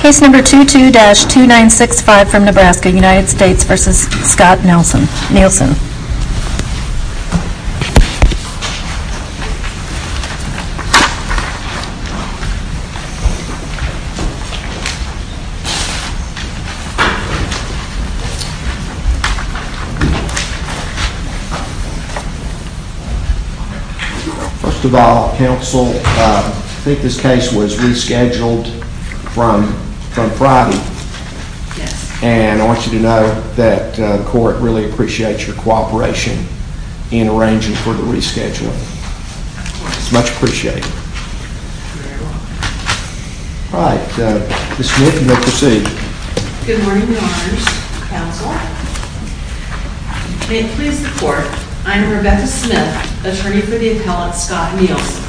Case number 22-2965 from Nebraska, United States v. Scott Nielsen First of all, counsel, I think this case was rescheduled from Friday, and I want you to know that the court really appreciates your cooperation in arranging for the rescheduling. It's much appreciated. All right. Ms. Smith, you may proceed. Good morning, Your Honors. Counsel, if you can't please the court, I'm Rebecca Smith, attorney for the appellant Scott Nielsen.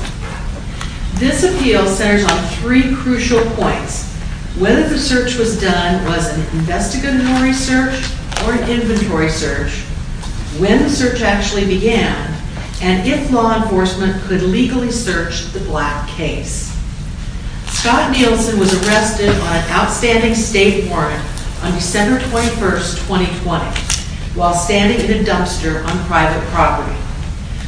This appeal centers on three crucial points. First, whether the search was done was an investigatory search or an inventory search, when the search actually began, and if law enforcement could legally search the Black case. Scott Nielsen was arrested on an outstanding state warrant on December 21, 2020, while standing in a dumpster on private property.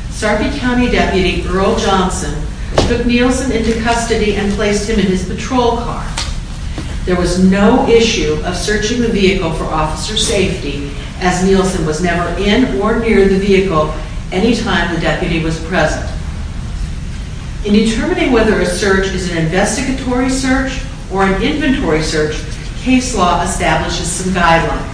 Sarpy County Deputy Earl Johnson took Nielsen into custody and placed him in his patrol car. There was no issue of searching the vehicle for officer safety, as Nielsen was never in or near the vehicle any time the deputy was present. In determining whether a search is an investigatory search or an inventory search, case law establishes some guidelines.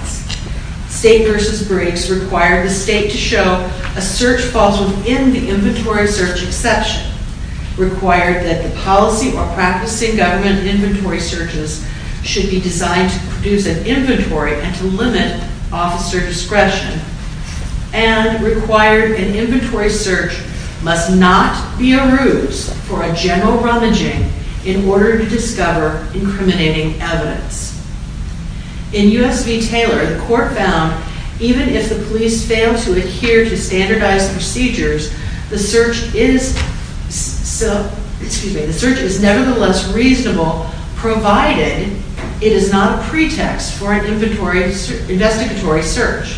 State v. Briggs required the state to show a search falls within the inventory search exception, required that the policy or practicing government inventory searches should be designed to produce an inventory and to limit officer discretion, and required an inventory search must not be a ruse for a general rummaging in order to discover incriminating evidence. In U.S. v. Taylor, the court found, even if the police fail to adhere to standardized procedures, the search is nevertheless reasonable, provided it is not a pretext for an investigatory search.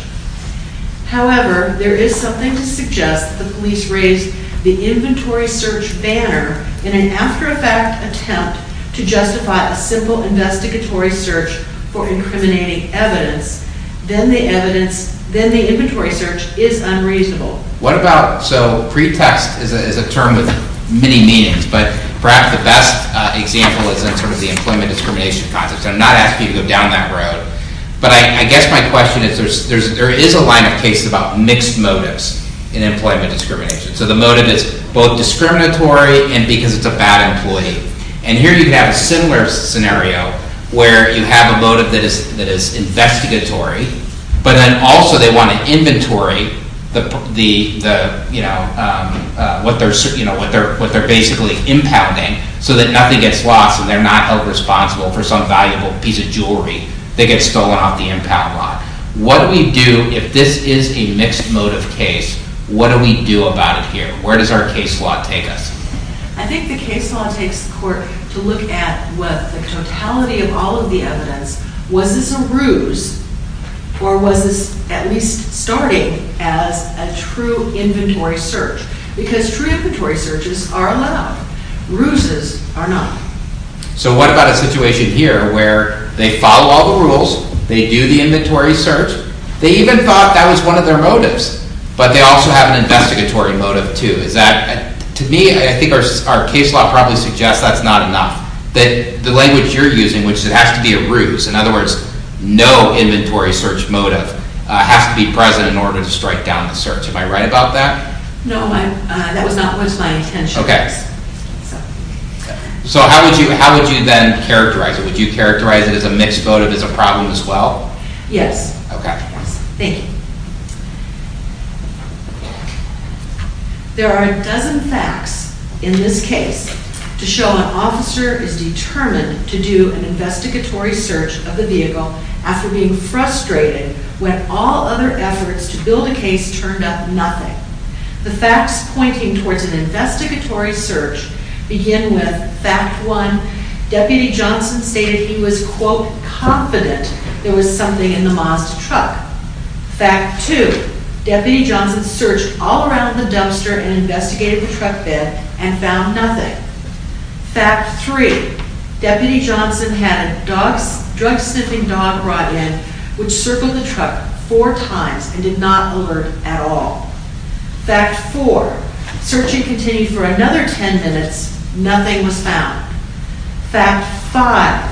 However, there is something to suggest that the police raised the inventory search banner in an after-effect attempt to justify a simple investigatory search for incriminating evidence, then the inventory search is unreasonable. What about, so pretext is a term with many meanings, but perhaps the best example is in sort of the employment discrimination concept, so I'm not asking you to go down that road, but I guess my question is there is a line of cases about mixed motives in employment discrimination. So the motive is both discriminatory and because it's a bad employee. And here you have a similar scenario where you have a motive that is investigatory, but then also they want to inventory the, you know, what they're basically impounding so that nothing gets lost and they're not held responsible for some valuable piece of jewelry that gets stolen off the impound lot. What do we do if this is a mixed motive case? What do we do about it here? Where does our case law take us? I think the case law takes the court to look at what the totality of all of the evidence, was this a ruse or was this at least starting as a true inventory search? Because true inventory searches are allowed, ruses are not. So what about a situation here where they follow all the rules, they do the inventory search, they even thought that was one of their motives, but they also have an investigatory motive too. Is that, to me, I think our case law probably suggests that's not enough. The language you're using, which it has to be a ruse, in other words, no inventory search motive, has to be present in order to strike down the search. Am I right about that? No, that was not my intention. Okay. So how would you then characterize it? Would you characterize it as a mixed motive, as a problem as well? Yes. Okay. Thank you. There are a dozen facts in this case to show an officer is determined to do an investigatory search of the vehicle after being frustrated when all other efforts to build a case turned up nothing. The facts pointing towards an investigatory search begin with fact one, Deputy Johnson stated he was, quote, confident there was something in the Mazda truck. Fact two, Deputy Johnson searched all around the dumpster and investigated the truck bed and found nothing. Fact three, Deputy Johnson had a drug sniffing dog brought in, which circled the truck four Fact four, searching continued for another ten minutes, nothing was found. Fact five,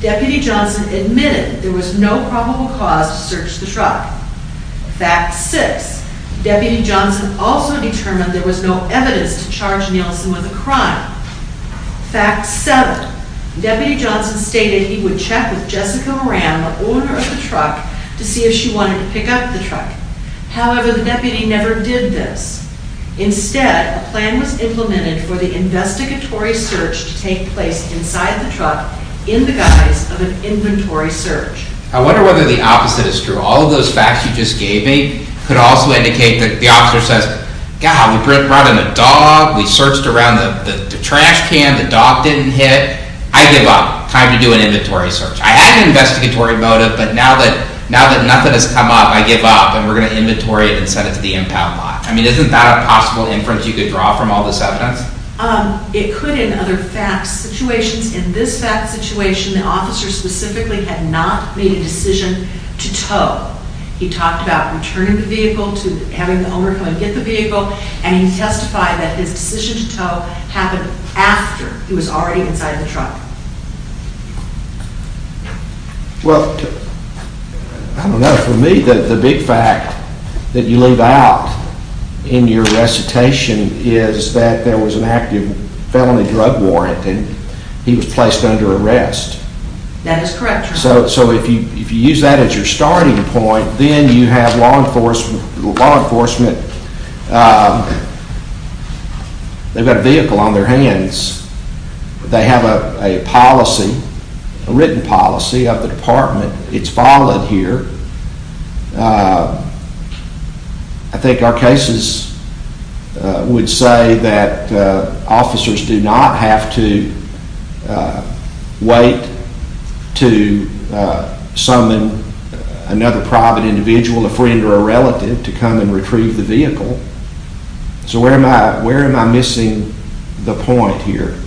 Deputy Johnson admitted there was no probable cause to search the truck. Fact six, Deputy Johnson also determined there was no evidence to charge Nielsen with a crime. Fact seven, Deputy Johnson stated he would check with Jessica Moran, the owner of the truck, to see if she wanted to pick up the truck. However, the deputy never did this. Instead, a plan was implemented for the investigatory search to take place inside the truck in the guise of an inventory search. I wonder whether the opposite is true. All of those facts you just gave me could also indicate that the officer says, God, we brought in a dog, we searched around the trash can, the dog didn't hit, I give up. Time to do an inventory search. I had an investigatory motive, but now that nothing has come up, I give up, and we're going to inventory it and send it to the impound lot. I mean, isn't that a possible inference you could draw from all this evidence? It could in other facts situations. In this fact situation, the officer specifically had not made a decision to tow. He talked about returning the vehicle to having the owner come and get the vehicle, and he testified that his decision to tow happened after he was already inside the truck. Well, I don't know. For me, the big fact that you leave out in your recitation is that there was an active felony drug warrant, and he was placed under arrest. That is correct. So if you use that as your starting point, then you have law enforcement, they've got a vehicle on their hands, they have a policy, a written policy of the department. It's followed here. I think our cases would say that officers do not have to wait to summon another private individual, a friend or a relative, to come and retrieve the vehicle. So where am I missing the point here?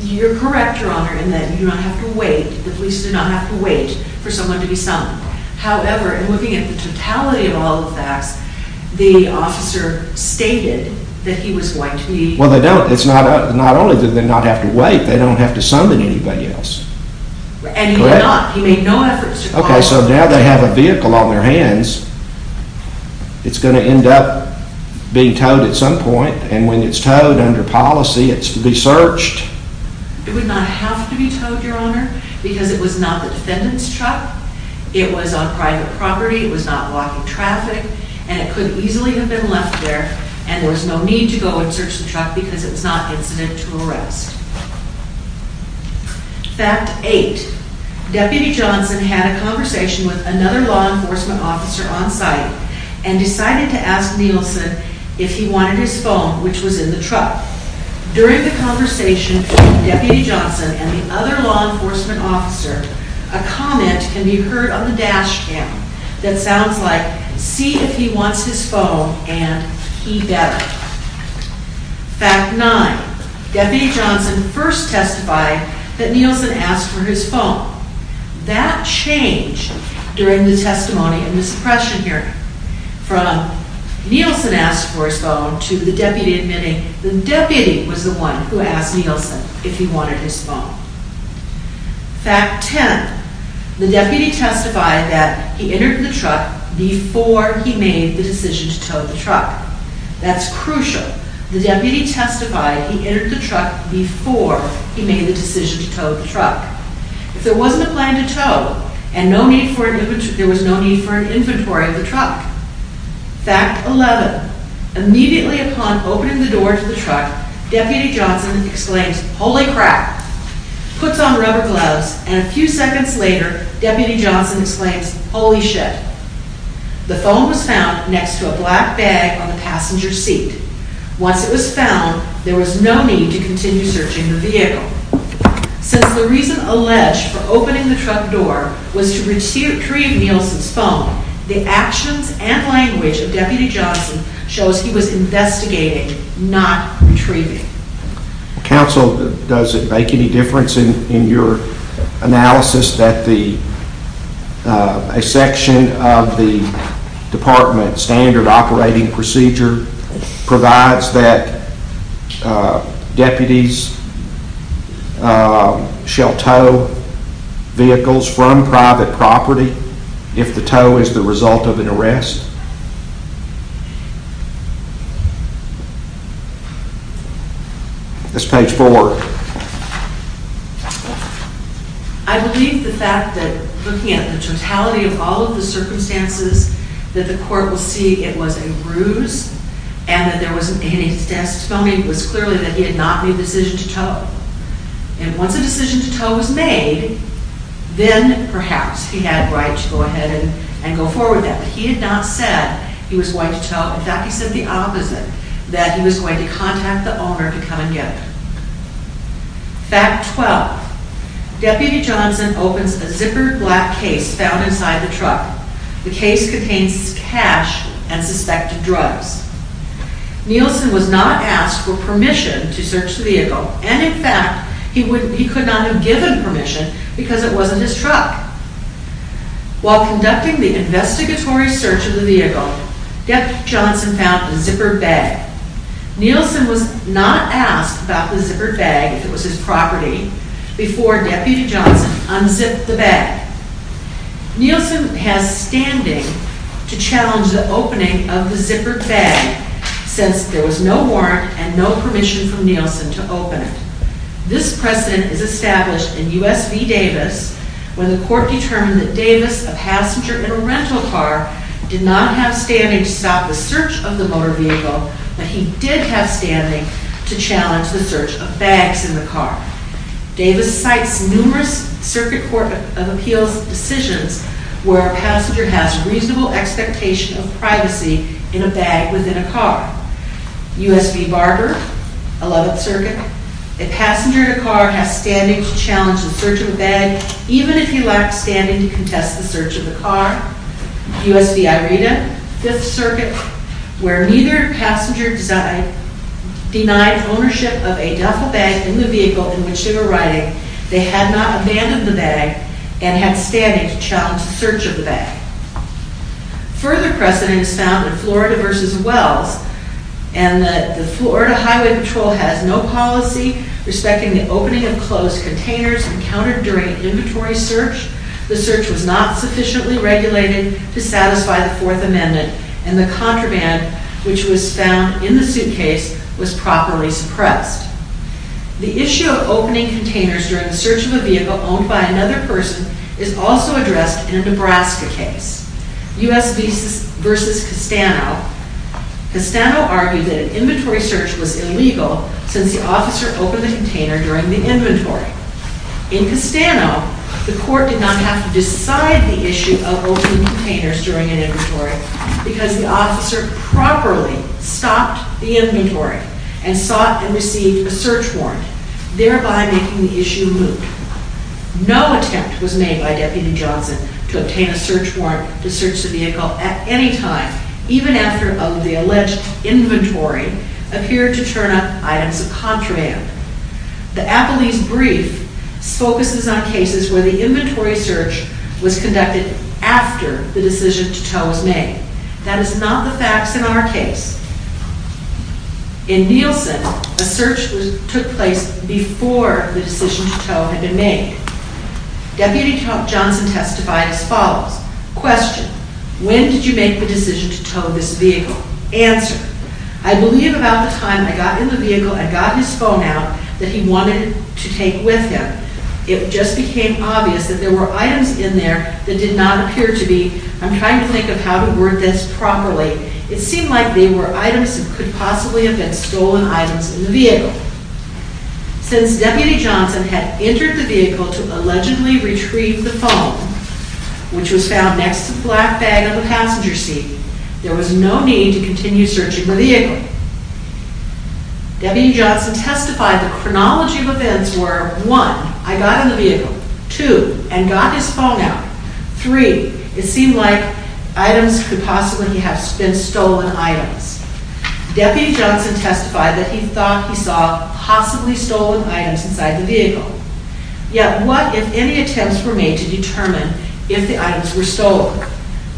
You're correct, Your Honor, in that you do not have to wait. The police do not have to wait for someone to be summoned. However, in looking at the totality of all the facts, the officer stated that he was going to be... Well, they don't. It's not only do they not have to wait, they don't have to summon anybody else. And he did not. He made no efforts to call... It's going to end up being towed at some point, and when it's towed, under policy, it's to be searched. It would not have to be towed, Your Honor, because it was not the defendant's truck, it was on private property, it was not blocking traffic, and it could easily have been left there and there was no need to go and search the truck because it was not incident to arrest. Fact 8. Deputy Johnson had a conversation with another law enforcement officer on site and decided to ask Nielsen if he wanted his phone, which was in the truck. During the conversation, Deputy Johnson and the other law enforcement officer, a comment can be heard on the dash cam that sounds like, see if he wants his phone and he better. Fact 9. Deputy Johnson first testified that Nielsen asked for his phone. That changed during the testimony and misdepression hearing. From Nielsen asked for his phone to the deputy admitting the deputy was the one who asked Nielsen if he wanted his phone. Fact 10. The deputy testified that he entered the truck before he made the decision to tow the truck. That's crucial. The deputy testified he entered the truck before he made the decision to tow the truck. If there wasn't a plan to tow and there was no need for an inventory of the truck. Fact 11. Immediately upon opening the door to the truck, Deputy Johnson exclaims, holy crap, puts on rubber gloves, and a few seconds later, Deputy Johnson exclaims, holy shit. The phone was found next to a black bag on the passenger seat. Once it was found, there was no need to continue searching the vehicle. Since the reason alleged for opening the truck door was to retrieve Nielsen's phone, the actions and language of Deputy Johnson shows he was investigating, not retrieving. Counsel, does it make any difference in your analysis that a section of the department standard operating procedure provides that deputies shall tow vehicles from private property if the tow is the result of an arrest? That's page four. I believe the fact that, looking at the totality of all of the circumstances, that the court will see it was a ruse and that there wasn't any testimony was clearly that he had not made a decision to tow. And once a decision to tow was made, then perhaps he had a right to go ahead and go forward with that. But he had not said he was going to tow. In fact, he said the opposite, that he was going to contact the owner to come and get it. Deputy Johnson opens a zippered black case found inside the truck. The case contains cash and suspected drugs. Nielsen was not asked for permission to search the vehicle. And in fact, he could not have given permission because it wasn't his truck. While conducting the investigatory search of the vehicle, Deputy Johnson found the zippered bag. Nielsen was not asked about the zippered bag, if it was his property, before Deputy Johnson unzipped the bag. Nielsen has standing to challenge the opening of the zippered bag since there was no warrant and no permission from Nielsen to open it. This precedent is established in U.S. v. Davis when the court determined that Davis, a passenger in a rental car, did not have standing to stop the search of the motor vehicle, but he did have standing to challenge the search of bags in the car. Davis cites numerous Circuit Court of Appeals decisions where a passenger has reasonable U.S. v. Barber, 11th Circuit, a passenger in a car has standing to challenge the search of a bag even if he lacked standing to contest the search of the car. U.S. v. Ireda, 5th Circuit, where neither passenger denied ownership of a duffel bag in the vehicle in which they were riding, they had not abandoned the bag and had standing to challenge the search of the bag. Further precedent is found in Florida v. Wells, and the Florida Highway Patrol has no policy respecting the opening of closed containers encountered during an inventory search, the search was not sufficiently regulated to satisfy the Fourth Amendment, and the contraband which was found in the suitcase was properly suppressed. The issue of opening containers during the search of a vehicle owned by another person is also addressed in a Nebraska case, U.S. v. Castano. Castano argued that an inventory search was illegal since the officer opened the container during the inventory. In Castano, the court did not have to decide the issue of opening containers during an inventory because the officer properly stopped the inventory and sought and received a search warrant, thereby making the issue moot. No attempt was made by Deputy Johnson to obtain a search warrant to search the vehicle at any time, even after the alleged inventory appeared to turn up items of contraband. The Appellee's brief focuses on cases where the inventory search was conducted after the decision to tow was made. That is not the facts in our case. In Nielsen, a search took place before the decision to tow had been made. Deputy Johnson testified as follows. Question. When did you make the decision to tow this vehicle? Answer. I believe about the time I got in the vehicle and got his phone out that he wanted to take with him. It just became obvious that there were items in there that did not appear to be, I'm trying Since Deputy Johnson had entered the vehicle to allegedly retrieve the phone, which was found next to the black bag on the passenger seat, there was no need to continue searching the vehicle. Deputy Johnson testified the chronology of events were 1. I got in the vehicle. 2. And got his phone out. 3. It seemed like items could possibly have been stolen items. Deputy Johnson testified that he thought he saw possibly stolen items inside the vehicle. Yet, what if any attempts were made to determine if the items were stolen?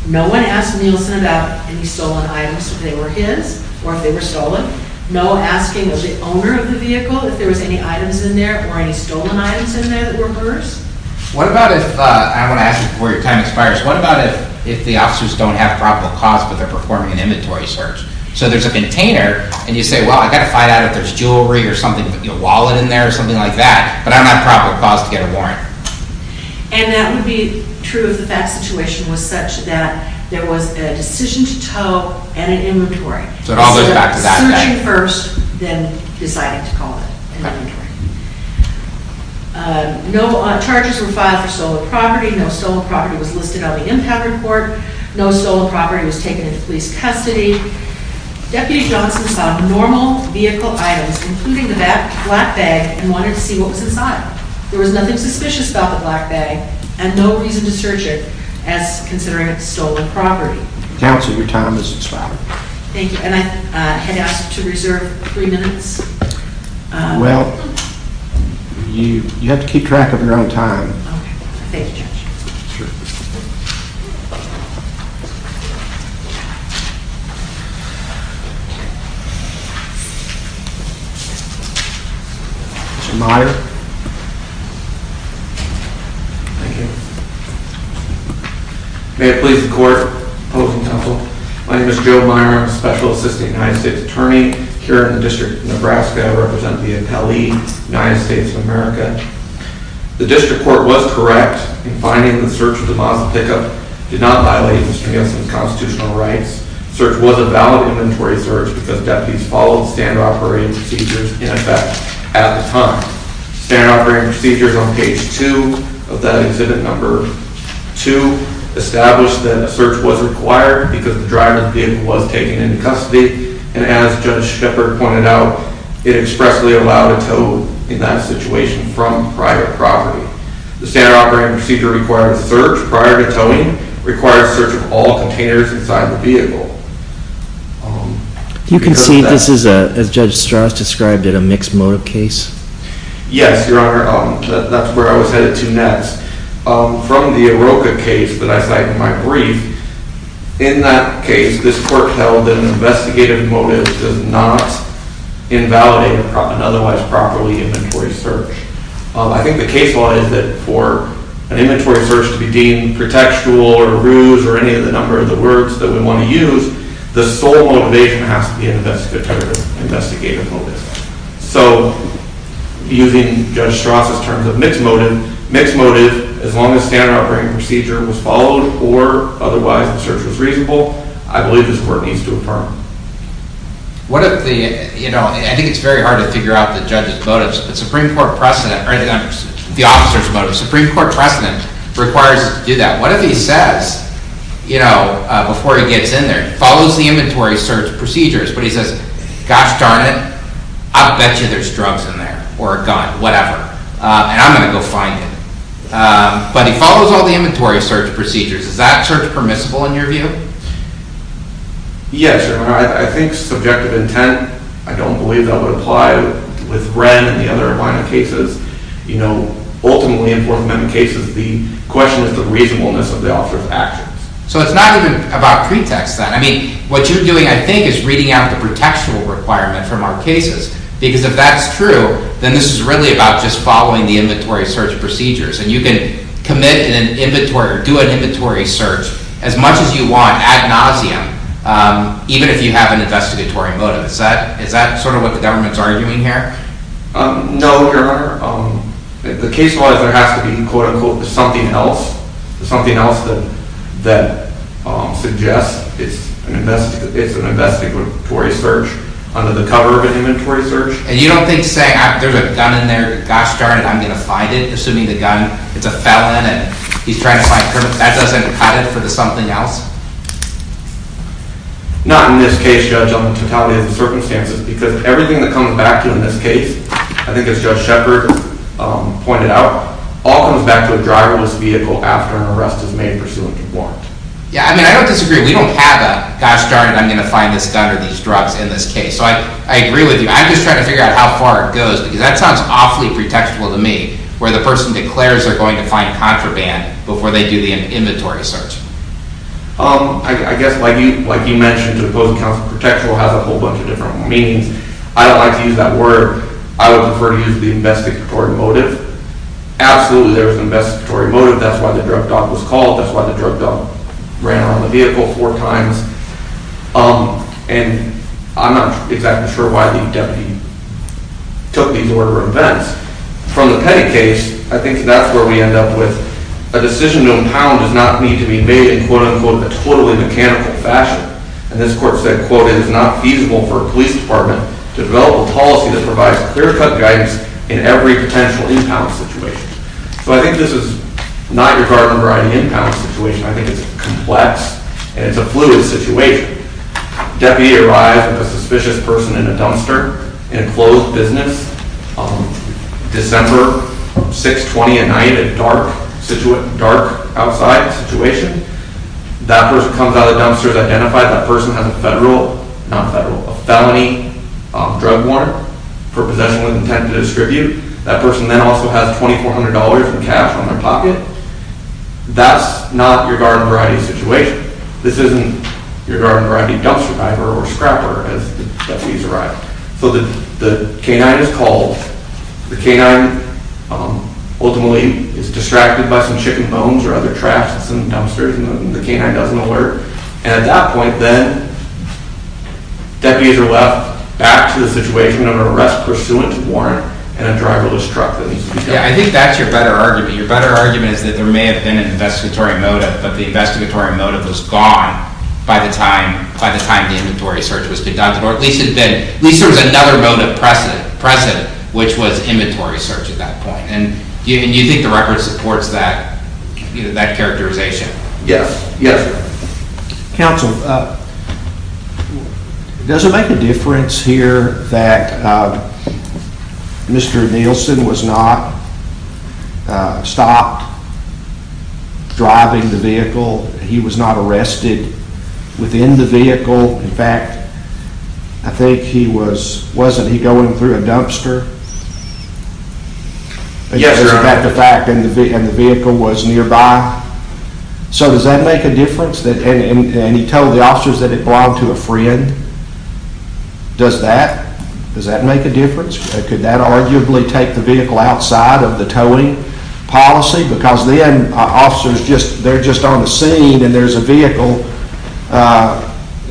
No one asked Nielsen about any stolen items, if they were his or if they were stolen. No asking of the owner of the vehicle if there was any items in there or any stolen items in there that were hers. What about if, I want to ask you before your time expires, what about if the officers don't have proper cause but they're performing an inventory search? So there's a container and you say, well I've got to find out if there's jewelry or something, a wallet in there or something like that, but I don't have proper cause to get a warrant. And that would be true if that situation was such that there was a decision to tow and an inventory. So it all goes back to that. Searching first, then deciding to call it an inventory. No charges were filed for stolen property. No stolen property was listed on the impact report. No stolen property was taken into police custody. Deputy Johnson found normal vehicle items, including the black bag, and wanted to see what was inside. There was nothing suspicious about the black bag and no reason to search it as considering it stolen property. Counsel, your time has expired. Thank you. And I had asked to reserve three minutes. Well, you have to keep track of your own time. Okay. Thank you, Judge. Sure. Mr. Meyer. Thank you. May it please the court, public and counsel, my name is Joe Meyer. I'm a special assistant United States attorney here in the District of Nebraska. I represent the appellee, United States of America. The district court was correct in finding the search of the Mazda pickup did not violate Mr. Johnson's constitutional rights. Search was a valid inventory search because deputies followed standard operating procedures in effect at the time. Standard operating procedures on page two of that exhibit number two established that the vehicle was being taken into custody, and as Judge Shepard pointed out, it expressly allowed a tow in that situation from private property. The standard operating procedure required search prior to towing, required search of all containers inside the vehicle. You can see this is a, as Judge Strauss described it, a mixed motive case. Yes, Your Honor. That's where I was headed to next. From the AROCA case that I cited in my brief, in that case, this court held that an investigative motive does not invalidate an otherwise properly inventory search. I think the case law is that for an inventory search to be deemed pretextual or a ruse or any of the number of the words that we want to use, the sole motivation has to be an investigative motive. So, using Judge Strauss' terms of mixed motive, mixed motive, as long as standard operating procedure was followed or otherwise the search was reasonable, I believe this court needs to depart. What if the, you know, I think it's very hard to figure out the judge's motives, but Supreme Court precedent, or the officer's motives, Supreme Court precedent requires you to do that. What if he says, you know, before he gets in there, follows the inventory search procedures, but he says, gosh darn it, I'll bet you there's drugs in there, or a gun, whatever, and I'm going to go find it. But he follows all the inventory search procedures. Is that search permissible in your view? Yes, Your Honor. I think subjective intent, I don't believe that would apply with Wren and the other Abina cases. You know, ultimately in Fourth Amendment cases, the question is the reasonableness of the officer's actions. So, it's not even about pretext then. I mean, what you're doing, I think, is reading out the pretextual requirement from our cases. Because if that's true, then this is really about just following the inventory search procedures. And you can commit in an inventory, or do an inventory search, as much as you want, ad nauseum, even if you have an investigatory motive. Is that sort of what the government's arguing here? No, Your Honor. The case law has to be, quote unquote, something else. Something else that suggests it's an investigatory search under the cover of an inventory search. And you don't think saying, there's a gun in there, gosh darn it, I'm going to find it, assuming the gun, it's a felon, and he's trying to find proof, that doesn't cut it for the something else? Not in this case, Judge, on the totality of the circumstances. Because everything that comes back to in this case, I think as Judge Shepard pointed out, all comes back to a driverless vehicle after an arrest is made pursuant to warrant. Yeah, I mean, I don't disagree. We don't have a, gosh darn it, I'm going to find this gun or these drugs in this case. So I agree with you. I'm just trying to figure out how far it goes. Because that sounds awfully pretextual to me, where the person declares they're going to find contraband before they do the inventory search. I guess, like you mentioned, opposing counsel pretextual has a whole bunch of different meanings. I don't like to use that word. I would prefer to use the investigatory motive. Absolutely, there was an investigatory motive. That's why the drug dog was called. That's why the drug dog ran on the vehicle four times. And I'm not exactly sure why the deputy took these order of events. From the Petty case, I think that's where we end up with a decision known how it does not need to be made in quote, unquote, a totally mechanical fashion. And this court said, quote, it is not feasible for a police department to develop a policy that provides clear-cut guidance in every potential impound situation. So I think this is not your garden variety impound situation. I think it's complex. And it's a fluid situation. Deputy arrives with a suspicious person in a dumpster in a closed business. December 6, 20 at night, a dark, dark outside situation. That person comes out of the dumpster, is identified. That person has a federal, not federal, a felony drug warrant for possession with intent to distribute. That person then also has $2,400 in cash on their pocket. That's not your garden variety situation. This isn't your garden variety dumpster diver or scrapper as the deputies arrive. So the canine is called. The canine ultimately is distracted by some chicken bones or other traps in some dumpsters. And the canine doesn't alert. And at that point then, deputies are left back to the situation of an arrest pursuant to warrant and a driverless truck. Yeah, I think that's your better argument. Your better argument is that there may have been an investigatory motive, but the investigatory motive was gone by the time the inventory search was conducted. Or at least there was another motive present, which was inventory search at that point. And you think the record supports that characterization? Yes, yes. Counsel, does it make a difference here that Mr. Nielsen was not stopped driving the vehicle? He was not arrested within the vehicle? In fact, I think he was, wasn't he going through a dumpster? Yes, Your Honor. And the vehicle was nearby? So does that make a difference? And he told the officers that it belonged to a friend? Does that? Does that make a difference? Could that arguably take the vehicle outside of the towing policy? Because then officers, they're just on the scene and there's a vehicle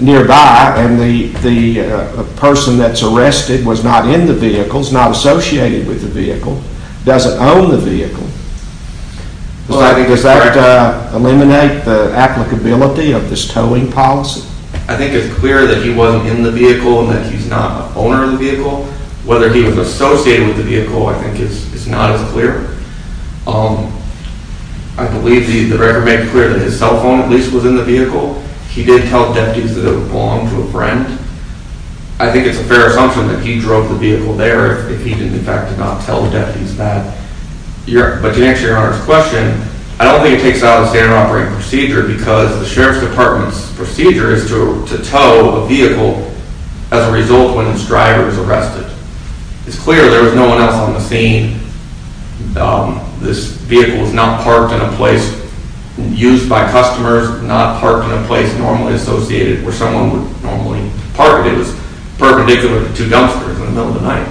nearby. And the person that's arrested was not in the vehicle. It's not associated with the vehicle. Does it own the vehicle? Does that eliminate the applicability of this towing policy? I think it's clear that he wasn't in the vehicle and that he's not an owner of the vehicle. Whether he was associated with the vehicle I think is not as clear. I believe the record made it clear that his cell phone at least was in the vehicle. I think it's a fair assumption that he drove the vehicle there if he didn't in fact did not tell the deputies that. But to answer Your Honor's question, I don't think it takes out of the standard operating procedure because the Sheriff's Department's procedure is to tow a vehicle as a result when its driver is arrested. It's clear there was no one else on the scene. This vehicle was not parked in a place used by customers, not parked in a place normally associated where someone would normally park it. It was perpendicular to two dumpsters in the middle of the night.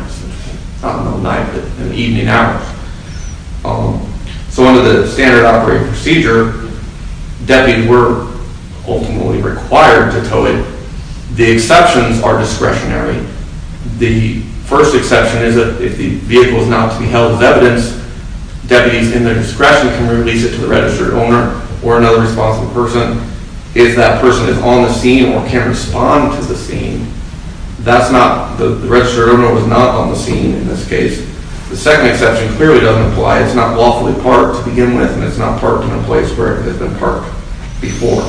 Not in the middle of the night, but in the evening hours. So under the standard operating procedure, deputies were ultimately required to tow it. The exceptions are discretionary. The first exception is that if the vehicle is not to be held as evidence, deputies in their discretion can release it to the registered owner or another responsible person. If that person is on the scene or can respond to the scene, that's not, the registered owner was not on the scene in this case. The second exception clearly doesn't apply. It's not lawfully parked to begin with and it's not parked in a place where it has been parked before.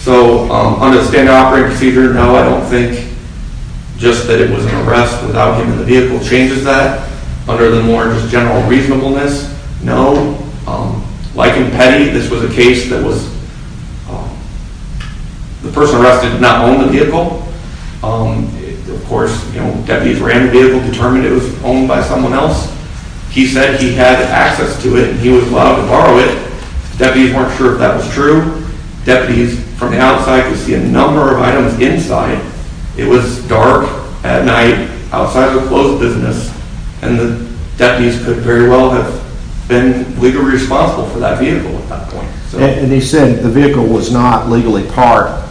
So under the standard operating procedure, no, I don't think just that it was an arrest without him in the vehicle changes that. Under the more just general reasonableness, no. Like in Petty, this was a case that was, the person arrested did not own the vehicle. Of course, deputies ran the vehicle, determined it was owned by someone else. He said he had access to it and he was allowed to borrow it. Deputies weren't sure if that was true. Deputies from the outside could see a number of items inside. It was dark at night outside of the closed business. And the deputies could very well have been legally responsible for that vehicle at that point. And he said the vehicle was not legally parked.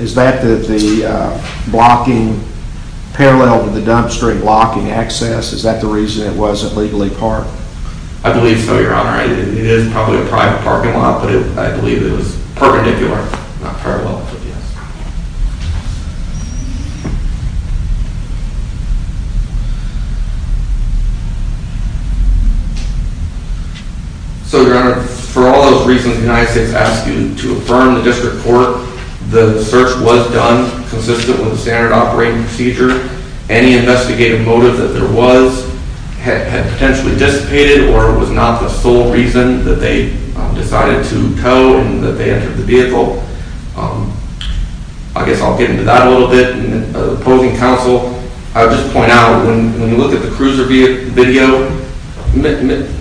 Is that the blocking parallel to the dumpster and blocking access? Is that the reason it wasn't legally parked? I believe so, Your Honor. It is probably a private parking lot, but I believe it was perpendicular, not parallel. Yes. So, Your Honor, for all those reasons the United States asked you to affirm the district court, the search was done consistent with the standard operating procedure. Any investigative motive that there was had potentially dissipated or was not the sole reason that they decided to tow and that they entered the vehicle. I guess I'll get into that a little bit. Opposing counsel, I would just point out when you look at the cruiser video,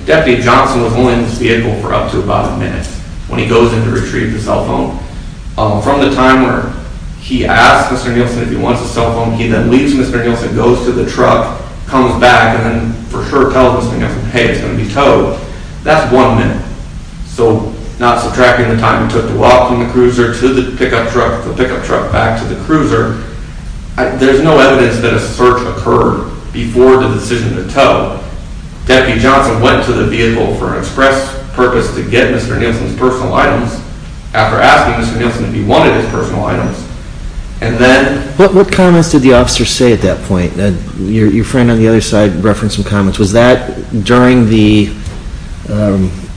Deputy Johnson was only in this vehicle for up to about a minute when he goes in to retrieve the cell phone. From the time where he asks Mr. Nielsen if he wants the cell phone, he then leaves Mr. Nielsen, goes to the truck, comes back, and then for sure tells Mr. Nielsen, hey, it's going to be towed, that's one minute. So, not subtracting the time he took to walk from the cruiser to the pickup truck, the pickup truck back to the cruiser, there's no evidence that a search occurred before the decision to tow. Deputy Johnson went to the vehicle for an express purpose to get Mr. Nielsen's personal items after asking Mr. Nielsen if he wanted his personal items, and then... What comments did the officer say at that point? Your friend on the other side referenced some comments. Was that during the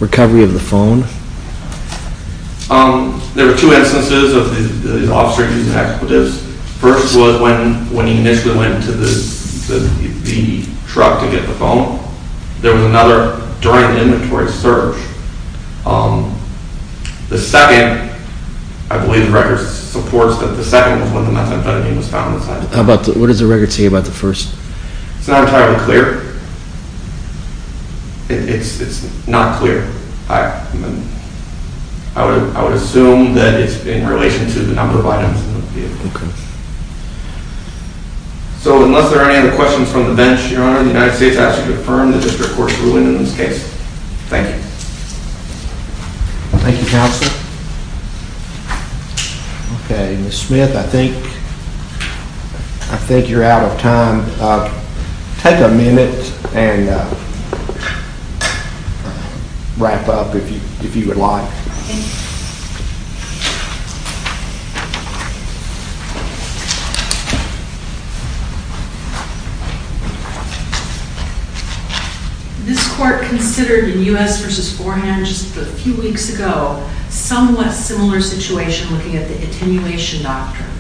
recovery of the phone? There were two instances of the officer using expletives. First was when he initially went to the truck to get the phone. There was another during the inventory search. The second, I believe the record supports that the second was when the methamphetamine was found. What does the record say about the first? It's not entirely clear. It's not clear. I would assume that it's in relation to the number of items in the vehicle. Okay. So, unless there are any other questions from the bench, Your Honor, the United States asks you to affirm the district court's ruling in this case. Thank you. Thank you, counsel. Okay. Ms. Smith, I think you're out of time. Take a minute and wrap up if you would like. Thank you. Thank you. This court considered in U.S. v. Forehand just a few weeks ago somewhat similar situation looking at the attenuation doctrine.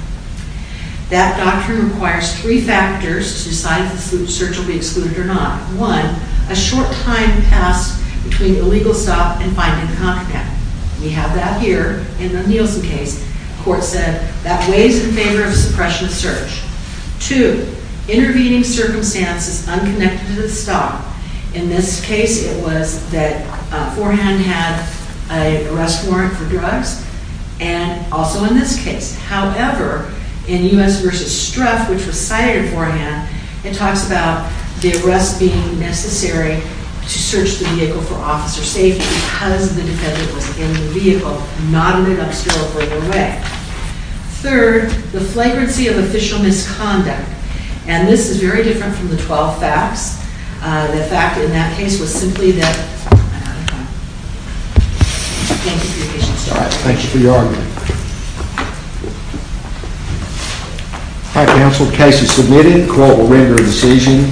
That doctrine requires three factors to decide if the search will be excluded or not. One, a short time passed between illegal stop and finding contact. We have that here in the Nielsen case. The court said that weighs in favor of suppression of search. Two, intervening circumstances unconnected to the stop. In this case, it was that Forehand had an arrest warrant for drugs and also in this case. However, in U.S. v. Struth, which was cited in Forehand, it talks about the arrest being necessary to search the vehicle for officer safety because the defendant was in the vehicle, not in an unsterilized way. Third, the flagrancy of official misconduct. And this is very different from the 12 facts. The fact in that case was simply that... I'm out of time. Thank you for your patience. All right. Thank you for your argument. All right, counsel. The case is submitted. The court will render a decision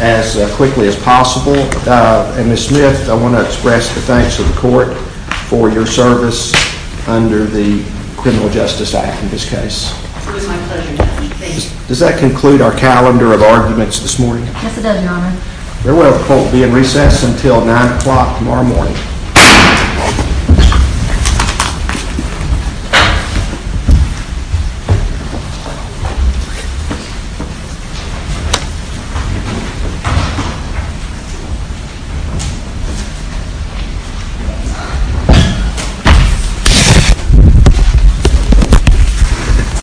as quickly as possible. Counsel, and Ms. Smith, I want to express the thanks of the court for your service under the Criminal Justice Act in this case. It was my pleasure, Judge. Does that conclude our calendar of arguments this morning? Yes, it does, Your Honor. Very well. The court will be in recess until 9 o'clock tomorrow morning. Thank you.